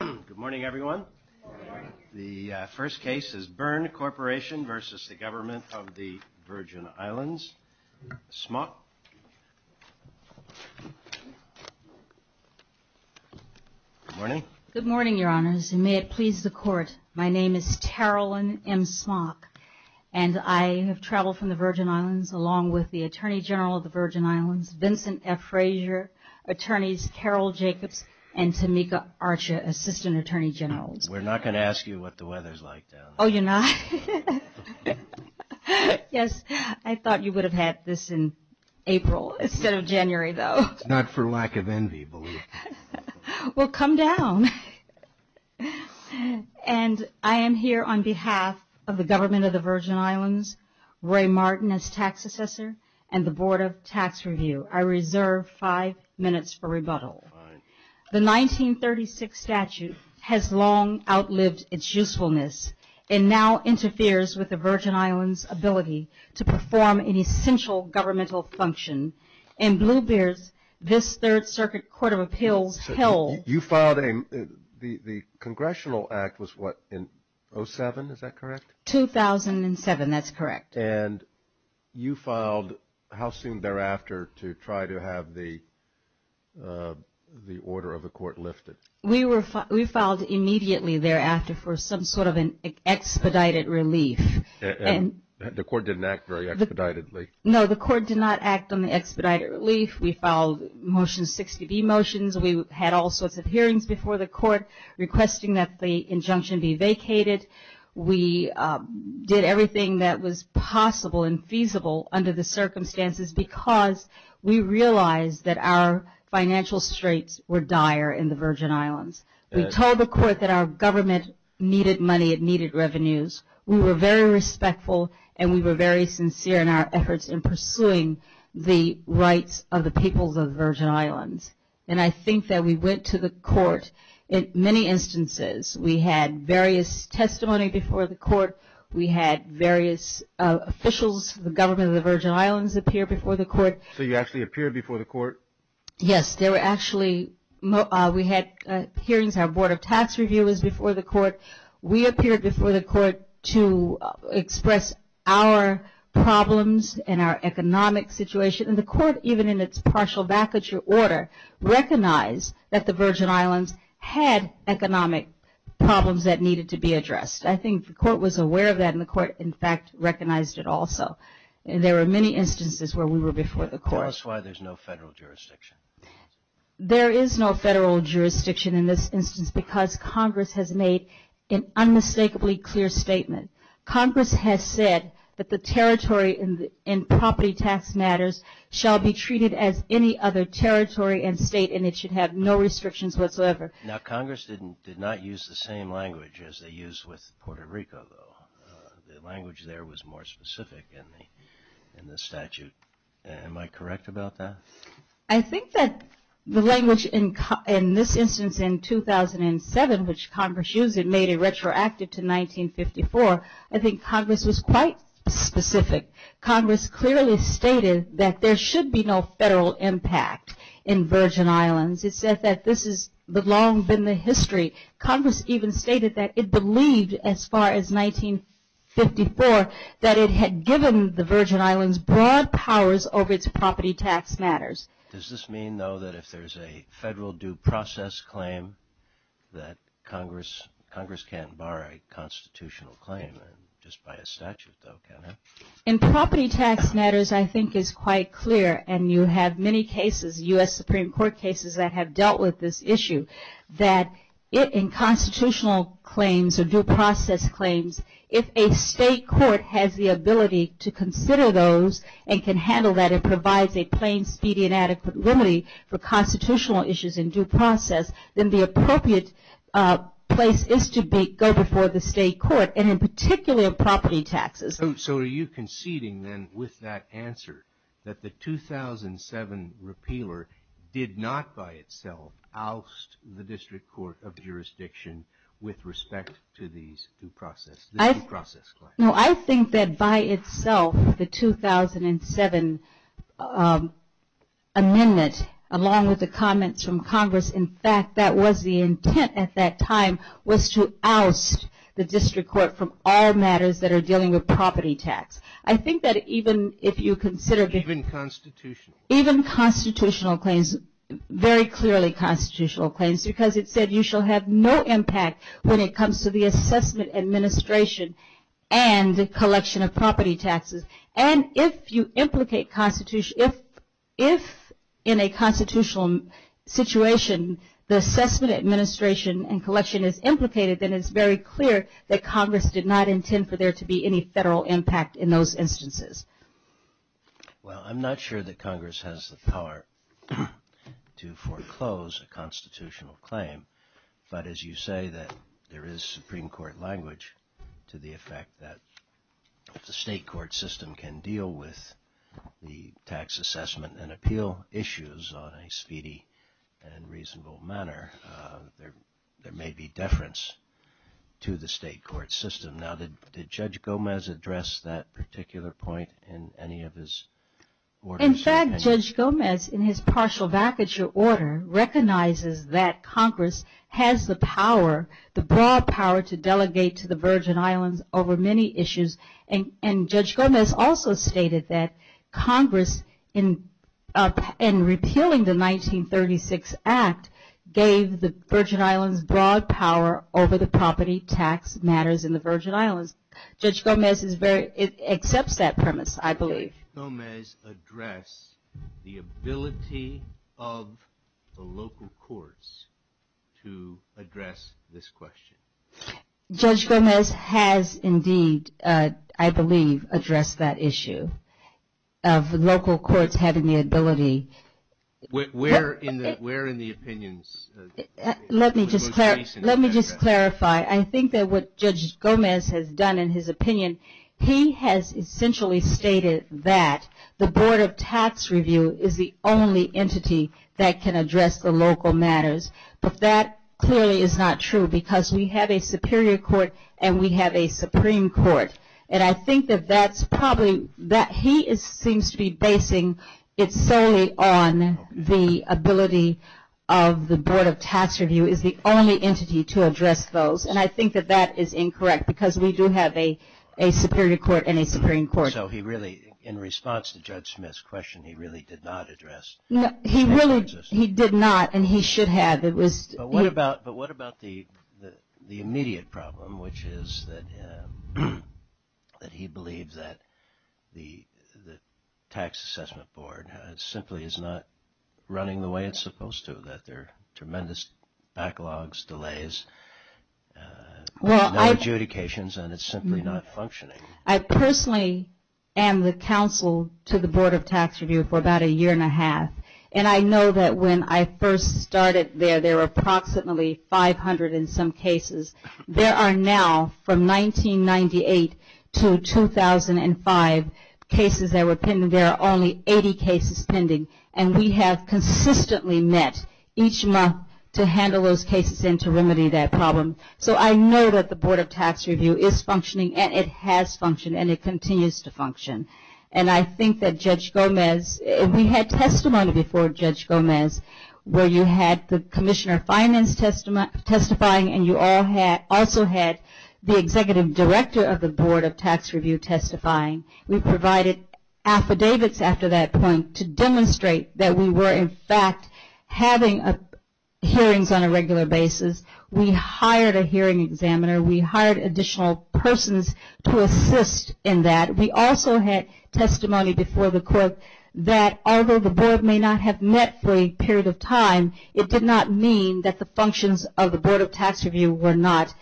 Good morning, everyone. The first case is Berne Corporation v. Government of the Virgin Islands. Smock. Good morning. Good morning, Your Honors, and may it please the Court. My name is Tarolyn M. Smock, and I have traveled from the Virgin Islands along with the Attorney General of the Virgin Islands, Vincent F. Frazier, Attorneys Carol Jacobs and Tamika Archer, Assistant Attorney Generals. We're not going to ask you what the weather's like down there. Oh, you're not? Yes, I thought you would have had this in April instead of January, though. It's not for lack of envy, believe me. Well, come down. And I am here on behalf of the Government of the Virgin Islands, Ray Martin as Tax Assessor, and the Board of Tax Review. I reserve five minutes for rebuttal. The 1936 statute has long outlived its usefulness and now interferes with the Virgin Islands' ability to perform an essential governmental function. In Blue Bears, this Third Circuit Court of Appeals held. You filed a, the Congressional Act was what, in 07, is that correct? 2007, that's correct. And you filed how soon thereafter to try to have the order of the Court lifted? We filed immediately thereafter for some sort of an expedited relief. The Court didn't act very expeditedly. No, the Court did not act on the expedited relief. We filed Motion 60B motions. We had all sorts of hearings before the Court requesting that the injunction be vacated. We did everything that was possible and feasible under the circumstances because we realized that our financial straits were dire in the Virgin Islands. We told the Court that our government needed money, it needed revenues. We were very respectful and we were very sincere in our efforts in pursuing the rights of the peoples of the Virgin Islands. And I think that we went to the Court in many instances. We had various testimony before the Court. We had various officials, the government of the Virgin Islands appear before the Court. So you actually appeared before the Court? Yes, there were actually, we had hearings. Our Board of Tax Reviewers before the Court. We appeared before the Court to express our problems and our economic situation. And the Court, even in its partial vacature order, recognized that the Virgin Islands had economic problems that needed to be addressed. I think the Court was aware of that and the Court, in fact, recognized it also. There were many instances where we were before the Court. Tell us why there's no federal jurisdiction. There is no federal jurisdiction in this instance because Congress has made an unmistakably clear statement. Congress has said that the territory and property tax matters shall be treated as any other territory and state and it should have no restrictions whatsoever. Now, Congress did not use the same language as they used with Puerto Rico, though. The language there was more specific in the statute. Am I correct about that? I think that the language in this instance in 2007, which Congress used, it made it retroactive to 1954. I think Congress was quite specific. Congress clearly stated that there should be no federal impact in Virgin Islands. It said that this has long been the history. Congress even stated that it believed, as far as 1954, that it had given the Virgin Islands broad powers over its property tax matters. Does this mean, though, that if there's a federal due process claim, that Congress can't bar a constitutional claim just by a statute, though, can it? In property tax matters, I think it's quite clear, and you have many cases, U.S. Supreme Court cases that have dealt with this issue, that in constitutional claims or due process claims, if a state court has the ability to consider those and can handle that and provides a plain, speedy, and adequate limit for constitutional issues in due process, then the appropriate place is to go before the state court, and in particular, property taxes. So are you conceding, then, with that answer, that the 2007 repealer did not by itself oust the District Court of Jurisdiction with respect to these due process claims? No, I think that by itself, the 2007 amendment, along with the comments from Congress, in fact, that was the intent at that time was to oust the district court from all matters that are dealing with property tax. I think that even if you consider. Even constitutional. Even constitutional claims, very clearly constitutional claims, because it said you shall have no impact when it comes to the assessment administration and the collection of property taxes. And if you implicate constitutional. If in a constitutional situation, the assessment administration and collection is implicated, then it's very clear that Congress did not intend for there to be any federal impact in those instances. Well, I'm not sure that Congress has the power to foreclose a constitutional claim. But as you say, that there is Supreme Court language to the effect that the state court system can deal with the tax assessment and appeal issues on a speedy and reasonable manner. There may be deference to the state court system. Now, did Judge Gomez address that particular point in any of his orders? In fact, Judge Gomez, in his partial vacature order, recognizes that Congress has the power, the broad power to delegate to the Virgin Islands over many issues. And Judge Gomez also stated that Congress, in repealing the 1936 Act, gave the Virgin Islands broad power over the property tax matters in the Virgin Islands. Judge Gomez accepts that premise, I believe. Did Judge Gomez address the ability of the local courts to address this question? Judge Gomez has indeed, I believe, addressed that issue of local courts having the ability. Where in the opinions? Let me just clarify. I think that what Judge Gomez has done in his opinion, he has essentially stated that the Board of Tax Review is the only entity that can address the local matters. But that clearly is not true because we have a superior court and we have a Supreme Court. And I think that that's probably, that he seems to be basing it solely on the ability of the Board of Tax Review is the only entity to address those. And I think that that is incorrect because we do have a superior court and a Supreme Court. So he really, in response to Judge Smith's question, he really did not address. He really, he did not and he should have. But what about the immediate problem, which is that he believes that the Tax Assessment Board simply is not running the way it's supposed to, that there are tremendous backlogs, delays, no adjudications, and it's simply not functioning. I personally am the counsel to the Board of Tax Review for about a year and a half. And I know that when I first started there, there were approximately 500 and some cases. There are now, from 1998 to 2005, cases that were pending. And there are only 80 cases pending. And we have consistently met each month to handle those cases and to remedy that problem. So I know that the Board of Tax Review is functioning and it has functioned and it continues to function. And I think that Judge Gomez, we had testimony before Judge Gomez where you had the Commissioner of Finance testifying and you also had the Executive Director of the Board of Tax Review testifying. We provided affidavits after that point to demonstrate that we were in fact having hearings on a regular basis. We hired a hearing examiner. We hired additional persons to assist in that. We also had testimony before the court that although the Board may not have met for a period of time, it did not mean that the functions of the Board of Tax Review were not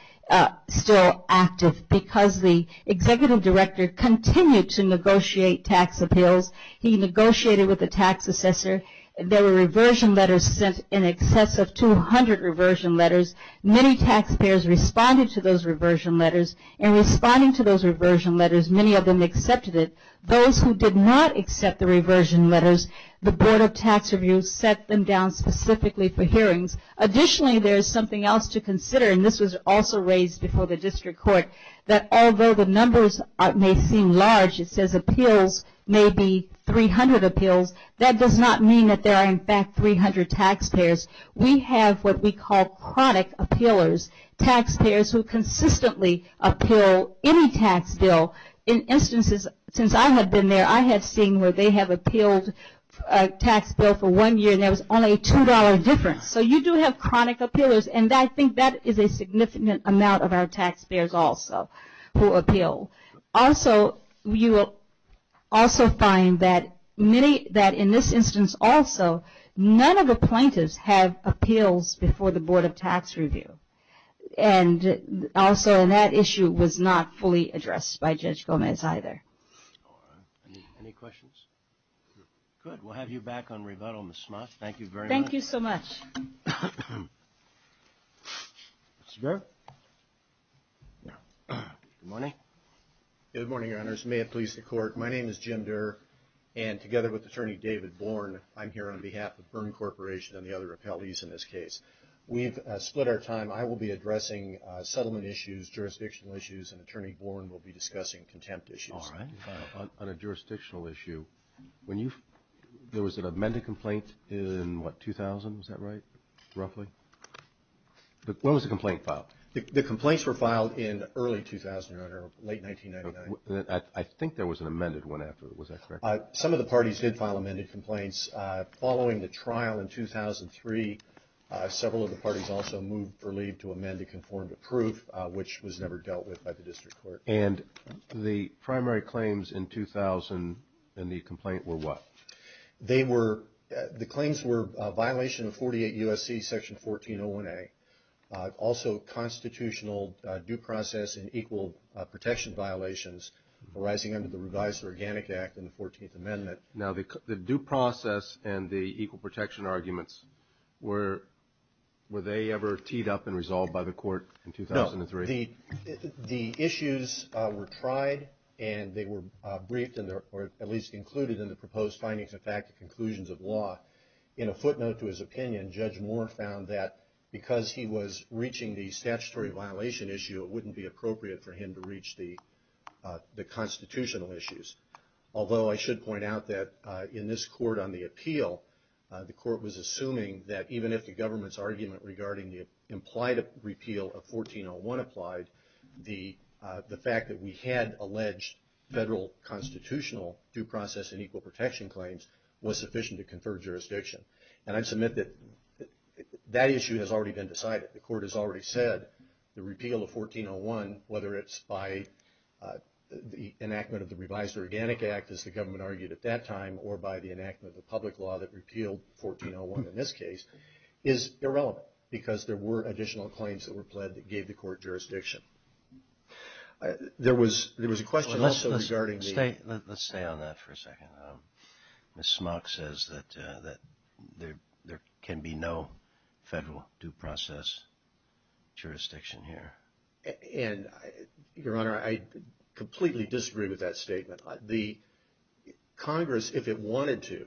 still active because the Executive Director continued to negotiate tax appeals. He negotiated with the tax assessor. There were reversion letters sent in excess of 200 reversion letters. Many taxpayers responded to those reversion letters. In responding to those reversion letters, many of them accepted it. Those who did not accept the reversion letters, the Board of Tax Review set them down specifically for hearings. Additionally, there is something else to consider, and this was also raised before the district court, that although the numbers may seem large, it says appeals may be 300 appeals, that does not mean that there are in fact 300 taxpayers. We have what we call chronic appealers, taxpayers who consistently appeal any tax bill. In instances since I have been there, I have seen where they have appealed a tax bill for one year and there was only a $2 difference. So you do have chronic appealers, and I think that is a significant amount of our taxpayers also who appeal. Also, you will also find that in this instance also, none of the plaintiffs have appeals before the Board of Tax Review. And also that issue was not fully addressed by Judge Gomez either. Any questions? Good, we will have you back on rebuttal, Ms. Smuts. Thank you very much. Thank you so much. Mr. Durr. Good morning. Good morning, Your Honors. May it please the Court. My name is Jim Durr, and together with Attorney David Bourne, I am here on behalf of Byrne Corporation and the other appellees in this case. We have split our time. I will be addressing settlement issues, jurisdictional issues, and Attorney Bourne will be discussing contempt issues. On a jurisdictional issue, there was an amended complaint in what, 2000? Is that right? Roughly? When was the complaint filed? The complaints were filed in early 2009 or late 1999. I think there was an amended one after. Was that correct? Some of the parties did file amended complaints. Following the trial in 2003, several of the parties also moved for leave to amend a conformative proof, which was never dealt with by the district court. And the primary claims in 2000 in the complaint were what? The claims were a violation of 48 U.S.C. Section 1401A, also constitutional due process and equal protection violations arising under the revised Organic Act and the 14th Amendment. Now, the due process and the equal protection arguments, were they ever teed up and resolved by the court in 2003? The issues were tried and they were briefed, or at least included in the proposed findings of fact and conclusions of law. In a footnote to his opinion, Judge Moore found that because he was reaching the statutory violation issue, it wouldn't be appropriate for him to reach the constitutional issues. Although I should point out that in this court on the appeal, the court was assuming that even if the government's argument regarding the repeal of 1401 applied, the fact that we had alleged federal constitutional due process and equal protection claims was sufficient to confer jurisdiction. And I submit that that issue has already been decided. The court has already said the repeal of 1401, whether it's by the enactment of the revised Organic Act, as the government argued at that time, or by the enactment of the public law that repealed 1401 in this case, is irrelevant because there were additional claims that were pled that gave the court jurisdiction. There was a question also regarding the... Let's stay on that for a second. Ms. Smock says that there can be no federal due process jurisdiction here. Your Honor, I completely disagree with that statement. Congress, if it wanted to,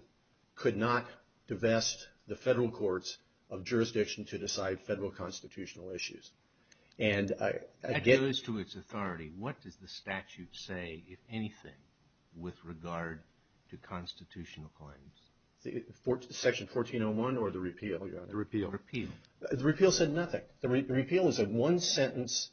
could not divest the federal courts of jurisdiction to decide federal constitutional issues. And I... That goes to its authority. What does the statute say, if anything, with regard to constitutional claims? Section 1401 or the repeal, Your Honor? The repeal. The repeal said nothing. The repeal is a one-sentence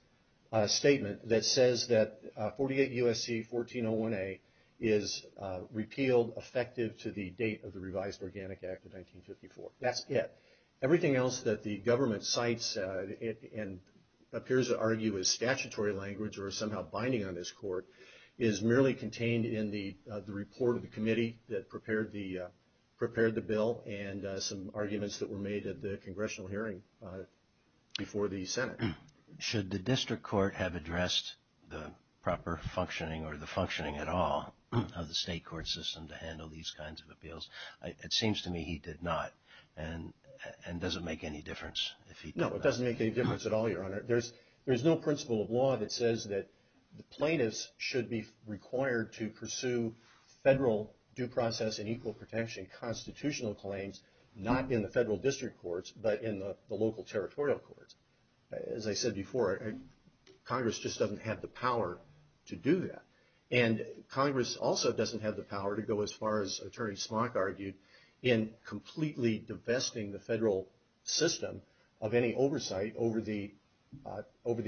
statement that says that 48 U.S.C. 1401A is repealed effective to the date of the revised Organic Act of 1954. That's it. Everything else that the government cites and appears to argue is statutory language or is somehow binding on this court is merely contained in the report of the committee that prepared the bill and some arguments that were made at the Congressional hearing before the Senate. Should the district court have addressed the proper functioning or the functioning at all of the state court system to handle these kinds of appeals? It seems to me he did not. And does it make any difference? No, it doesn't make any difference at all, Your Honor. There's no principle of law that says that plaintiffs should be required to pursue federal due process and equal protection constitutional claims, not in the federal district courts, but in the local territorial courts. As I said before, Congress just doesn't have the power to do that. And Congress also doesn't have the power to go as far as Attorney Smock argued in completely divesting the federal system of any oversight over the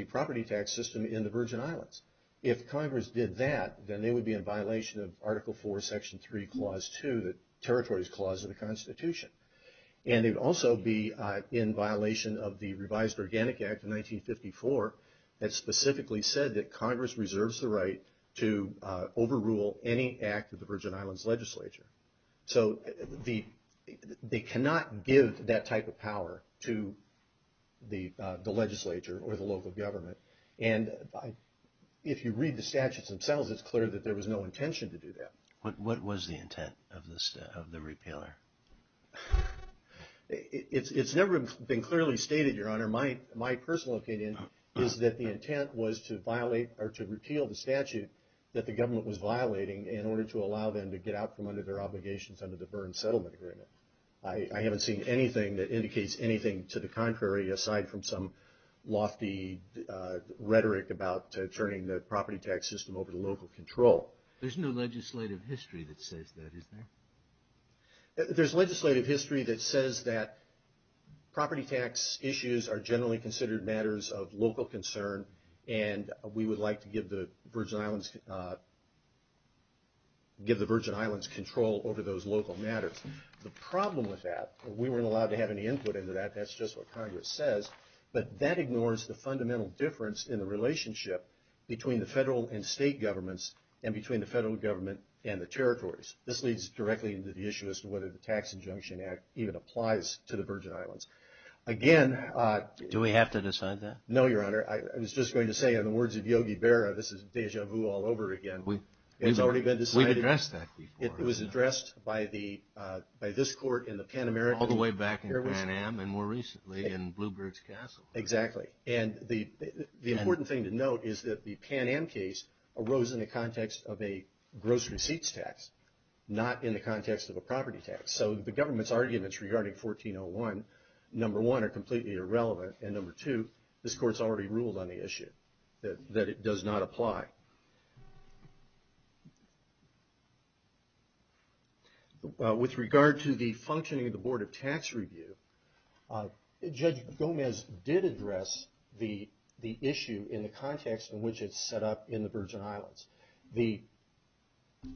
property tax system in the Virgin Islands. If Congress did that, then they would be in violation of Article 4, Section 3, Clause 2, the Territories Clause of the Constitution. And they would also be in violation of the Revised Organic Act of 1954 that specifically said that Congress reserves the right to overrule any act of the Virgin Islands legislature. So they cannot give that type of power to the legislature or the local government. And if you read the statutes themselves, it's clear that there was no intention to do that. What was the intent of the repealer? It's never been clearly stated, Your Honor. My personal opinion is that the intent was to violate or to repeal the statute that the government was violating in order to allow them to get out from under their obligations under the Burns Settlement Agreement. I haven't seen anything that indicates anything to the contrary aside from some lofty rhetoric about turning the property tax system over to local control. There's no legislative history that says that, is there? There's legislative history that says that property tax issues are generally considered matters of local concern, and we would like to give the Virgin Islands control over those local matters. The problem with that, we weren't allowed to have any input into that. That's just what Congress says. But that ignores the fundamental difference in the relationship between the federal government and the territories. This leads directly into the issue as to whether the Tax Injunction Act even applies to the Virgin Islands. Again... Do we have to decide that? No, Your Honor. I was just going to say, in the words of Yogi Berra, this is deja vu all over again. It's already been decided. We've addressed that before. It was addressed by this court in the Pan American... All the way back in Pan Am, and more recently in Bluebird's Castle. Exactly. The important thing to note is that the Pan Am case arose in the context of a gross receipts tax, not in the context of a property tax. So the government's arguments regarding 1401, number one, are completely irrelevant, and number two, this court's already ruled on the issue, that it does not apply. With regard to the functioning of the Board of Tax Review, Judge Gomez did address the issue in the context in which it's set up in the Virgin Islands. The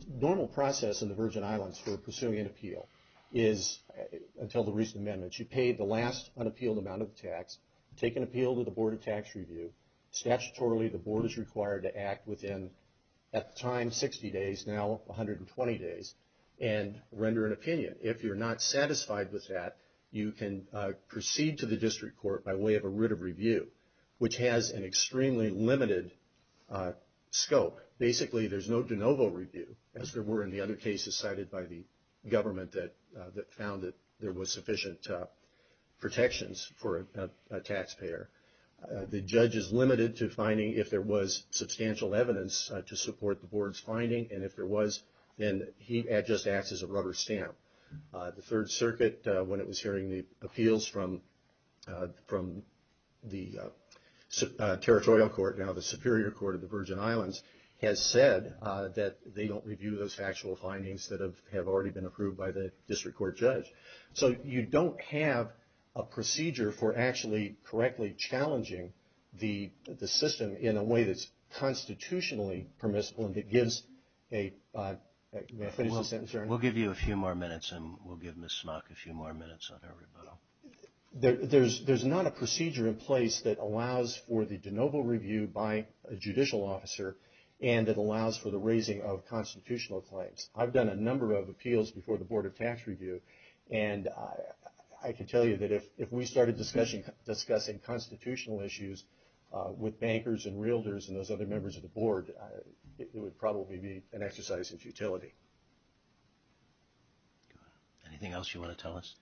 normal process in the Virgin Islands for pursuing an appeal is, until the recent amendments, you pay the last unappealed amount of tax, take an appeal to the Board of Tax Review. Statutorily, the Board is required to act within, at the time, 60 days, now 120 days, and render an opinion. If you're not satisfied with that, you can proceed to the district court by way of a writ of review, which has an extremely limited scope. Basically, there's no de novo review, as there were in the other cases cited by the government that found that there was sufficient protections for a taxpayer. The judge is limited to finding if there was substantial evidence to support the Board's finding, and if there was, then he just acts as a rubber stamp. The Third Circuit, when it was hearing the appeals from the Territorial Court, now the Superior Court of the Virgin Islands, has said that they don't review those factual findings that have already been approved by the district court judge. So you don't have a procedure for actually correctly challenging the system in a way that's constitutionally permissible and that gives a... May I finish the sentence, Your Honor? We'll give you a few more minutes, and we'll give Ms. Smock a few more minutes on her rebuttal. There's not a procedure in place that allows for the de novo review by a judicial officer and that allows for the raising of constitutional claims. I've done a number of appeals before the Board of Tax Review, and I can tell you that if we started discussing constitutional issues with bankers and Anything else you want to tell us?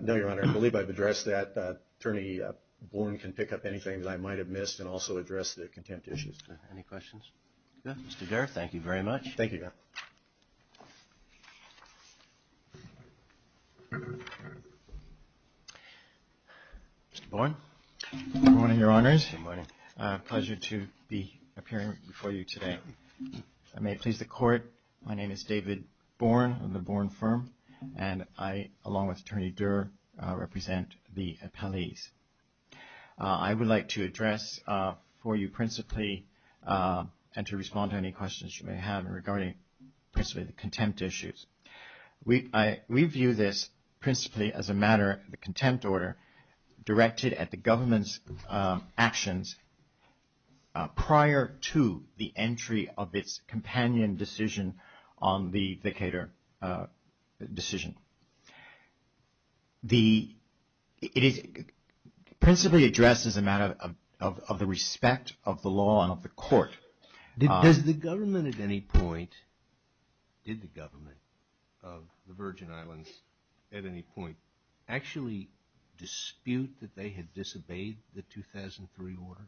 No, Your Honor. I believe I've addressed that. Attorney Born can pick up anything that I might have missed and also address the contempt issues. Any questions? Good. Mr. Derr, thank you very much. Thank you, Your Honor. Mr. Born? Good morning, Your Honors. Good morning. Pleasure to be appearing before you today. I may please the Court. My name is David Born of the Born Firm, and I, along with Attorney Derr, represent the appellees. I would like to address for you principally and to respond to any questions you may have regarding principally the contempt issues. We view this principally as a matter of the contempt order directed at the Decatur decision. It is principally addressed as a matter of the respect of the law and of the court. Did the government at any point, did the government of the Virgin Islands at any point actually dispute that they had disobeyed the 2003 order?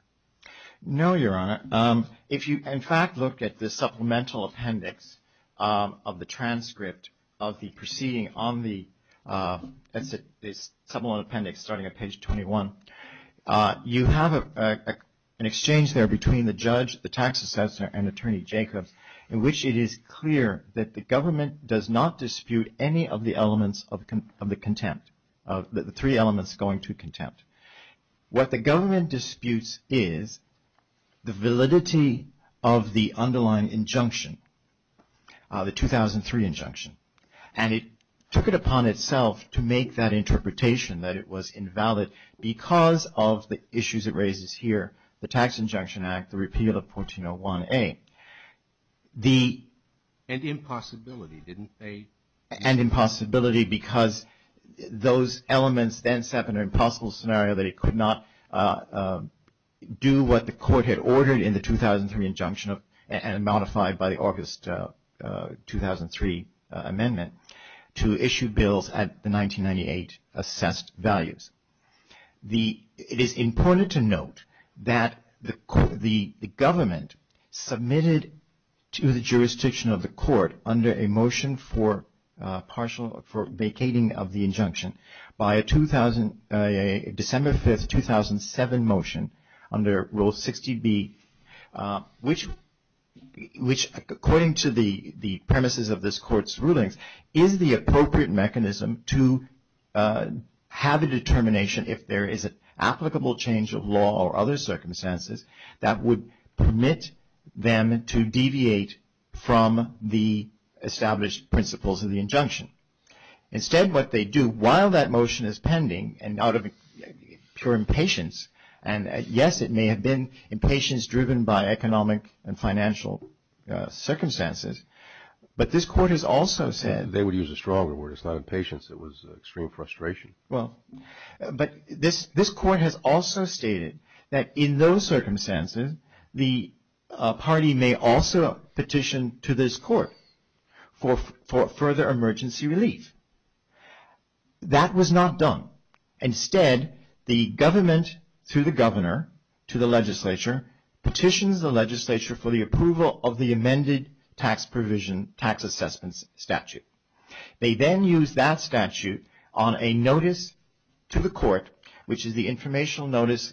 No, Your Honor. If you, in fact, look at the supplemental appendix of the transcript of the proceeding on the supplemental appendix starting at page 21, you have an exchange there between the judge, the tax assessor, and Attorney Jacobs in which it is clear that the government does not dispute any of the elements of the contempt, the three elements going to contempt. What the government disputes is the validity of the underlying injunction, the 2003 injunction. And it took it upon itself to make that interpretation that it was invalid because of the issues it raises here, the Tax Injunction Act, the repeal of 1401A. And impossibility, didn't they? And impossibility because those elements then set an impossible scenario that it could not do what the court had ordered in the 2003 injunction and modified by the August 2003 amendment to issue bills at the 1998 assessed values. It is important to note that the government submitted to the jurisdiction of the court under a motion for vacating of the injunction by a December 5, 2007 motion under Rule 60B, which according to the premises of this court's rulings is the appropriate mechanism to have a determination if there is an applicable change of law or other circumstances that would permit them to deviate from the established principles of the injunction. Instead, what they do while that motion is pending and out of pure impatience, and yes, it may have been impatience driven by economic and financial circumstances, but this court has also said They would use a stronger word. It's not impatience. It was extreme frustration. But this court has also stated that in those circumstances the party may also petition to this court for further emergency relief. That was not done. Instead, the government, through the governor, to the legislature, petitions the legislature for the approval of the amended tax provision, tax assessment statute. They then use that statute on a notice to the court, which is the informational notice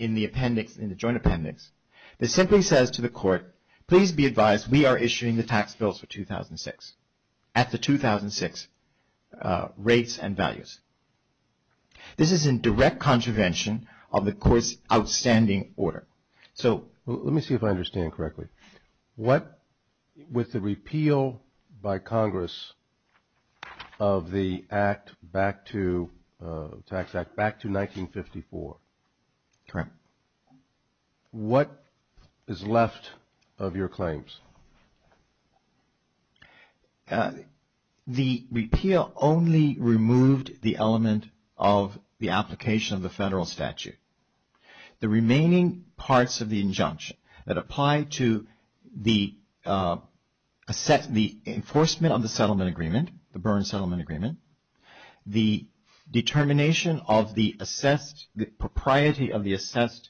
in the appendix, in the joint appendix, that simply says to the court, please be advised we are issuing the tax bills for 2006 at the 2006 rates and values. This is in direct contravention of the court's outstanding order. Let me see if I understand correctly. With the repeal by Congress of the tax act back to 1954. Correct. What is left of your claims? The repeal only removed the element of the application of the federal statute. The remaining parts of the injunction that apply to the enforcement of the settlement agreement, the Byrne Settlement Agreement, the determination of the assessed, the propriety of the assessed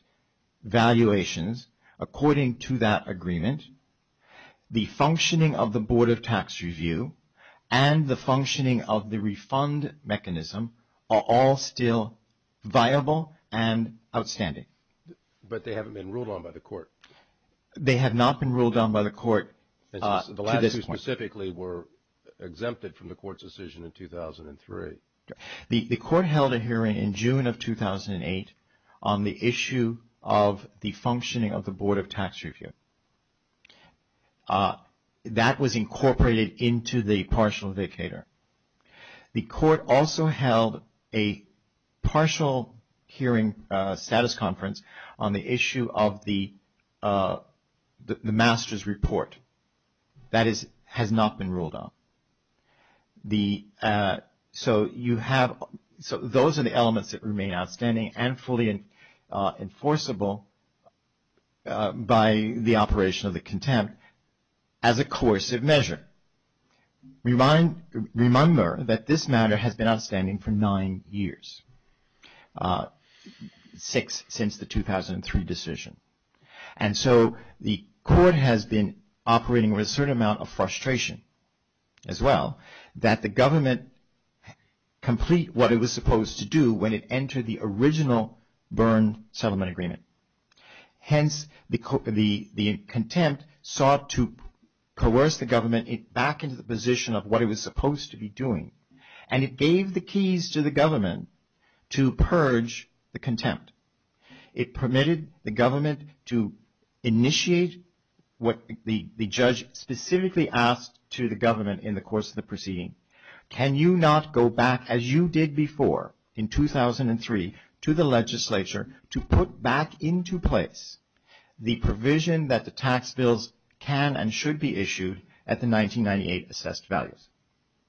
valuations according to that agreement, the functioning of the Board of Tax Review, and the functioning of the refund mechanism are all still viable and outstanding. But they haven't been ruled on by the court. They have not been ruled on by the court to this point. The last two specifically were exempted from the court's decision in 2003. The court held a hearing in June of 2008 on the issue of the functioning of the Board of Tax Review. That was incorporated into the partial vicator. The court also held a partial hearing status conference on the issue of the master's report. That has not been ruled on. So, those are the elements that remain outstanding and fully enforceable by the operation of the contempt as a coercive measure. Remember that this matter has been outstanding for nine years, six since the 2003 decision. And so, the court has been operating with a certain amount of frustration as well that the government complete what it was supposed to do when it entered the original Byrne Settlement Agreement. Hence, the contempt sought to coerce the government back into the position of what it was supposed to be doing. And it gave the keys to the government to purge the contempt. It permitted the government to initiate what the judge specifically asked to the government in the course of the proceeding. Can you not go back as you did before in 2003 to the legislature to put back into place the provision that the tax bills can and should be issued at the 1998 assessed values?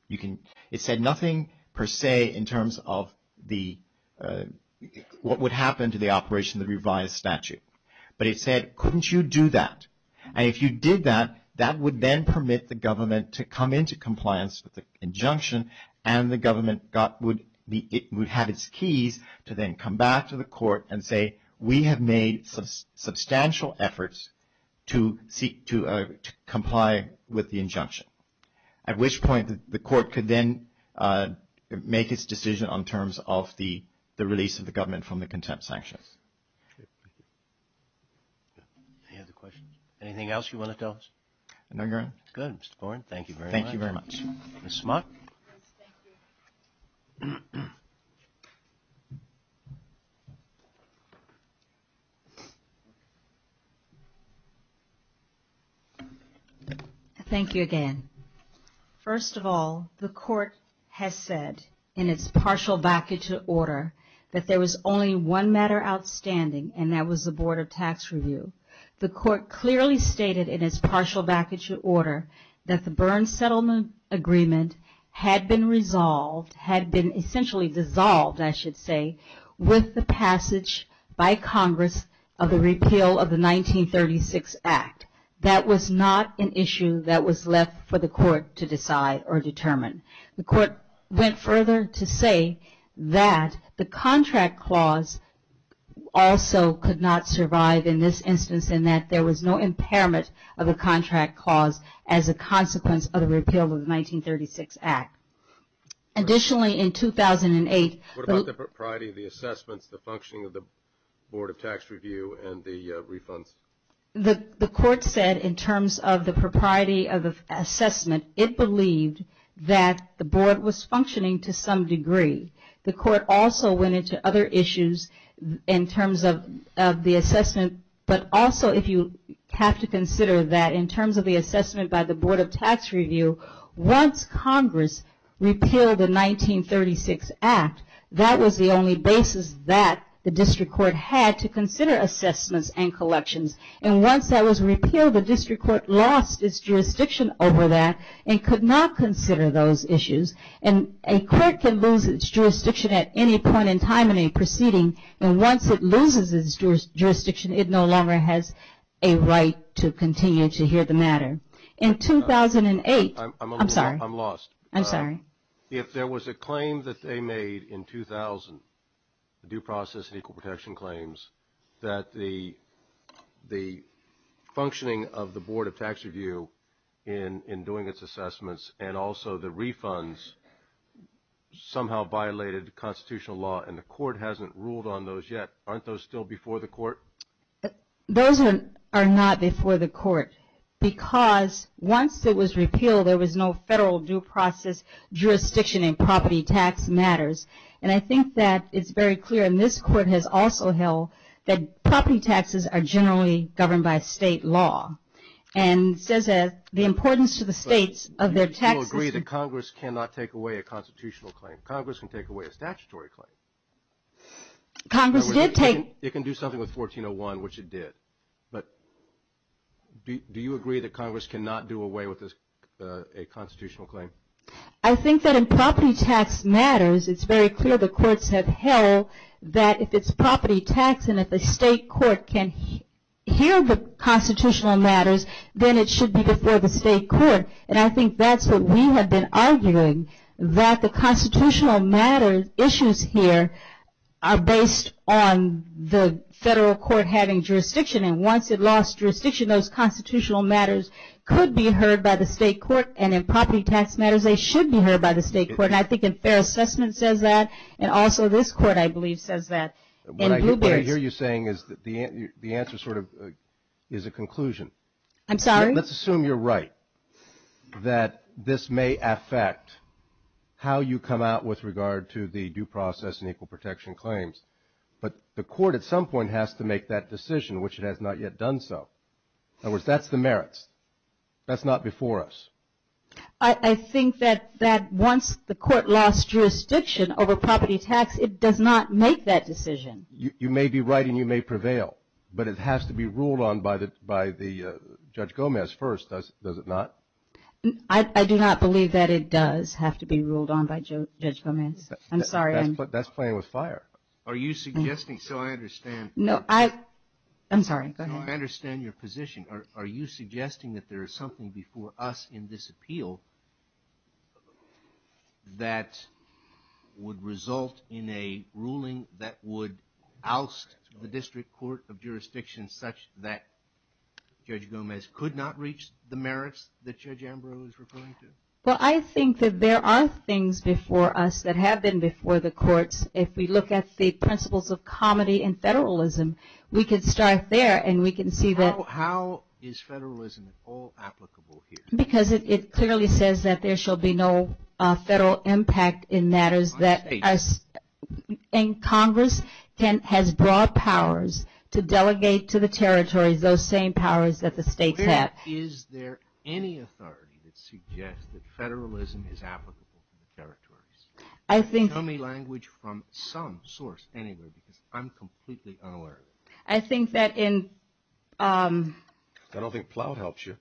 It said nothing per se in terms of what would happen to the operation of the revised statute. But it said, couldn't you do that? And if you did that, that would then permit the government to come into compliance with the injunction and the government would have its keys to then come back to the court and say, we have made substantial efforts to comply with the injunction. At which point the court could then make its decision on terms of the release of the government from the contempt sanctions. Any other questions? Anything else you want to tell us? No, Your Honor. Good, Mr. Byrne. Thank you very much. Thank you very much. Ms. Smart. Thank you. Thank you again. First of all, the court has said in its partial vacature order that there was only one matter outstanding and that was the Board of Tax Review. The court clearly stated in its partial vacature order that the Byrne Settlement Agreement had been resolved, had been essentially dissolved, I should say, with the passage by Congress of the repeal of the 1936 Act. That was not an issue that was left for the court to decide or determine. The court went further to say that the contract clause also could not survive in this instance in that there was no impairment of a contract clause as a consequence of the repeal of the 1936 Act. Additionally, in 2008 the What about the propriety of the assessments, the functioning of the Board of Tax Review, and the refunds? The court said in terms of the propriety of the assessment, it believed that the board was functioning to some degree. The court also went into other issues in terms of the assessment, but also if you have to consider that in terms of the assessment by the Board of Tax Review, once Congress repealed the 1936 Act, that was the only basis that the district court had to consider assessments and collections. And once that was repealed, the district court lost its jurisdiction over that and could not consider those issues. And a court can lose its jurisdiction at any point in time in a proceeding, and once it loses its jurisdiction, it no longer has a right to continue to hear the matter. In 2008, I'm sorry. I'm lost. I'm sorry. If there was a claim that they made in 2000, the due process and equal protection claims, that the functioning of the Board of Tax Review in doing its assessments and also the refunds somehow violated constitutional law and the court hasn't ruled on those yet, aren't those still before the court? Those are not before the court because once it was repealed, there was no federal due process jurisdiction in property tax matters. And I think that it's very clear, and this court has also held, that property taxes are generally governed by state law. And it says that the importance to the states of their taxes. So you agree that Congress cannot take away a constitutional claim. Congress can take away a statutory claim. Congress did take. It can do something with 1401, which it did. But do you agree that Congress cannot do away with a constitutional claim? I think that in property tax matters, it's very clear the courts have held that if it's property tax and if a state court can hear the constitutional matters, then it should be before the state court. And I think that's what we have been arguing, that the constitutional matters issues here are based on the federal court having jurisdiction. And once it lost jurisdiction, those constitutional matters could be heard by the state court. And in property tax matters, they should be heard by the state court. And I think a fair assessment says that. And also this court, I believe, says that. What I hear you saying is the answer sort of is a conclusion. I'm sorry? Let's assume you're right, that this may affect how you come out with regard to the due process and equal protection claims. But the court at some point has to make that decision, which it has not yet done so. In other words, that's the merits. That's not before us. I think that once the court lost jurisdiction over property tax, it does not make that decision. You may be right and you may prevail. But it has to be ruled on by Judge Gomez first, does it not? I do not believe that it does have to be ruled on by Judge Gomez. I'm sorry. That's playing with fire. Are you suggesting, so I understand. No, I'm sorry. Go ahead. So I understand your position. Are you suggesting that there is something before us in this appeal that would result in a ruling that would oust the District Court of Jurisdiction such that Judge Gomez could not reach the merits that Judge Ambrose is referring to? Well, I think that there are things before us that have been before the courts. If we look at the principles of comity and federalism, we could start there and we can see that. How is federalism at all applicable here? Because it clearly says that there shall be no federal impact in matters that us. And Congress has broad powers to delegate to the territories those same powers that the states have. Is there any authority that suggests that federalism is applicable to the territories? I think. Tell me language from some source anywhere because I'm completely unaware of it. I think that in. I don't think Plout helps you.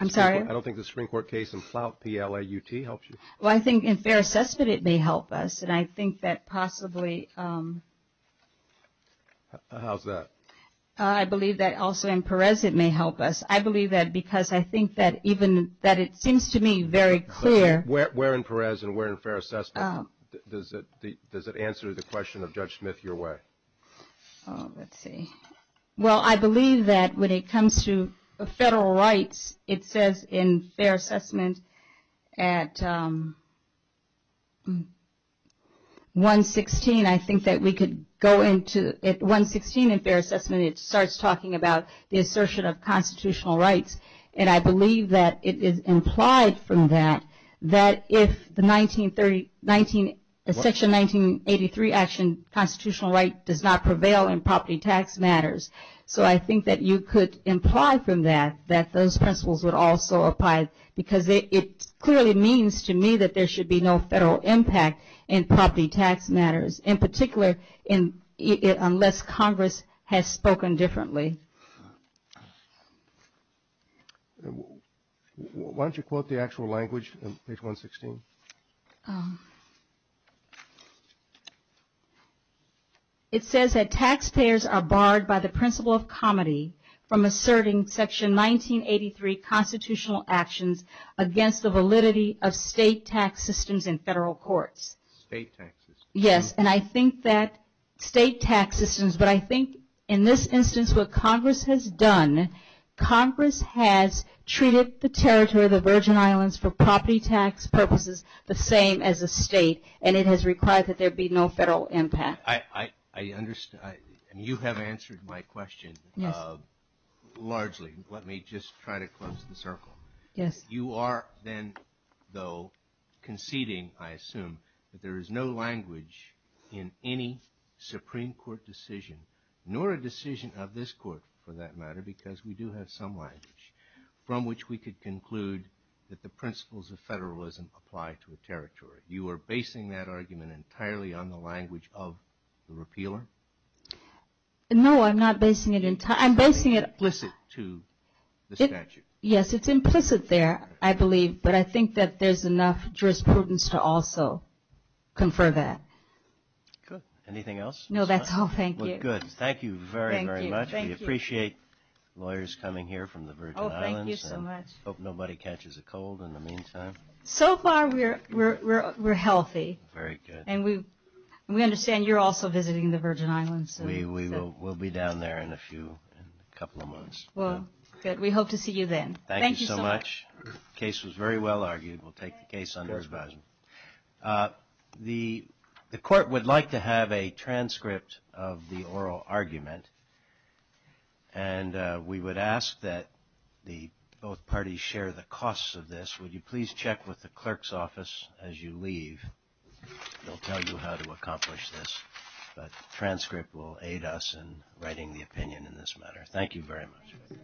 I'm sorry? I don't think the Supreme Court case in Plout, P-L-A-U-T, helps you. Well, I think in fair assessment it may help us, and I think that possibly. How's that? I believe that also in Perez it may help us. I believe that because I think that even that it seems to me very clear. Where in Perez and where in fair assessment does it answer the question of Judge Smith your way? Let's see. Well, I believe that when it comes to federal rights, it says in fair assessment at 116, I think that we could go into at 116 in fair assessment it starts talking about the assertion of constitutional rights. And I believe that it is implied from that that if the section 1983 action constitutional right does not prevail in property tax matters. So I think that you could imply from that that those principles would also apply because it clearly means to me that there should be no federal impact in property tax matters, in particular unless Congress has spoken differently. Why don't you quote the actual language in page 116? It says that taxpayers are barred by the principle of comity from asserting section 1983 constitutional actions against the validity of state tax systems in federal courts. State tax systems. Yes. And I think that state tax systems, but I think in this instance what Congress has done, Congress has treated the territory of the Virgin Islands for property tax purposes the same as a state and it has required that there be no federal impact. I understand. You have answered my question. Yes. Largely. Let me just try to close the circle. Yes. You are then though conceding, I assume, that there is no language in any Supreme Court decision nor a decision of this Court for that matter because we do have some language from which we could conclude that the principles of federalism apply to a territory. You are basing that argument entirely on the language of the repealer? No, I'm not basing it entirely. I'm basing it implicit to the statute. Yes, it's implicit there, I believe, but I think that there's enough jurisprudence to also confer that. Good. Anything else? No, that's all. Thank you. Good. Thank you very, very much. Thank you. We appreciate lawyers coming here from the Virgin Islands. Oh, thank you so much. Hope nobody catches a cold in the meantime. So far we're healthy. Very good. And we understand you're also visiting the Virgin Islands. We will be down there in a few, in a couple of months. Well, good. We hope to see you then. Thank you so much. Thank you so much. The case was very well argued. We'll take the case under advisement. The Court would like to have a transcript of the oral argument, and we would ask that both parties share the costs of this. Would you please check with the clerk's office as you leave? They'll tell you how to accomplish this. But the transcript will aid us in writing the opinion in this matter. Thank you very much.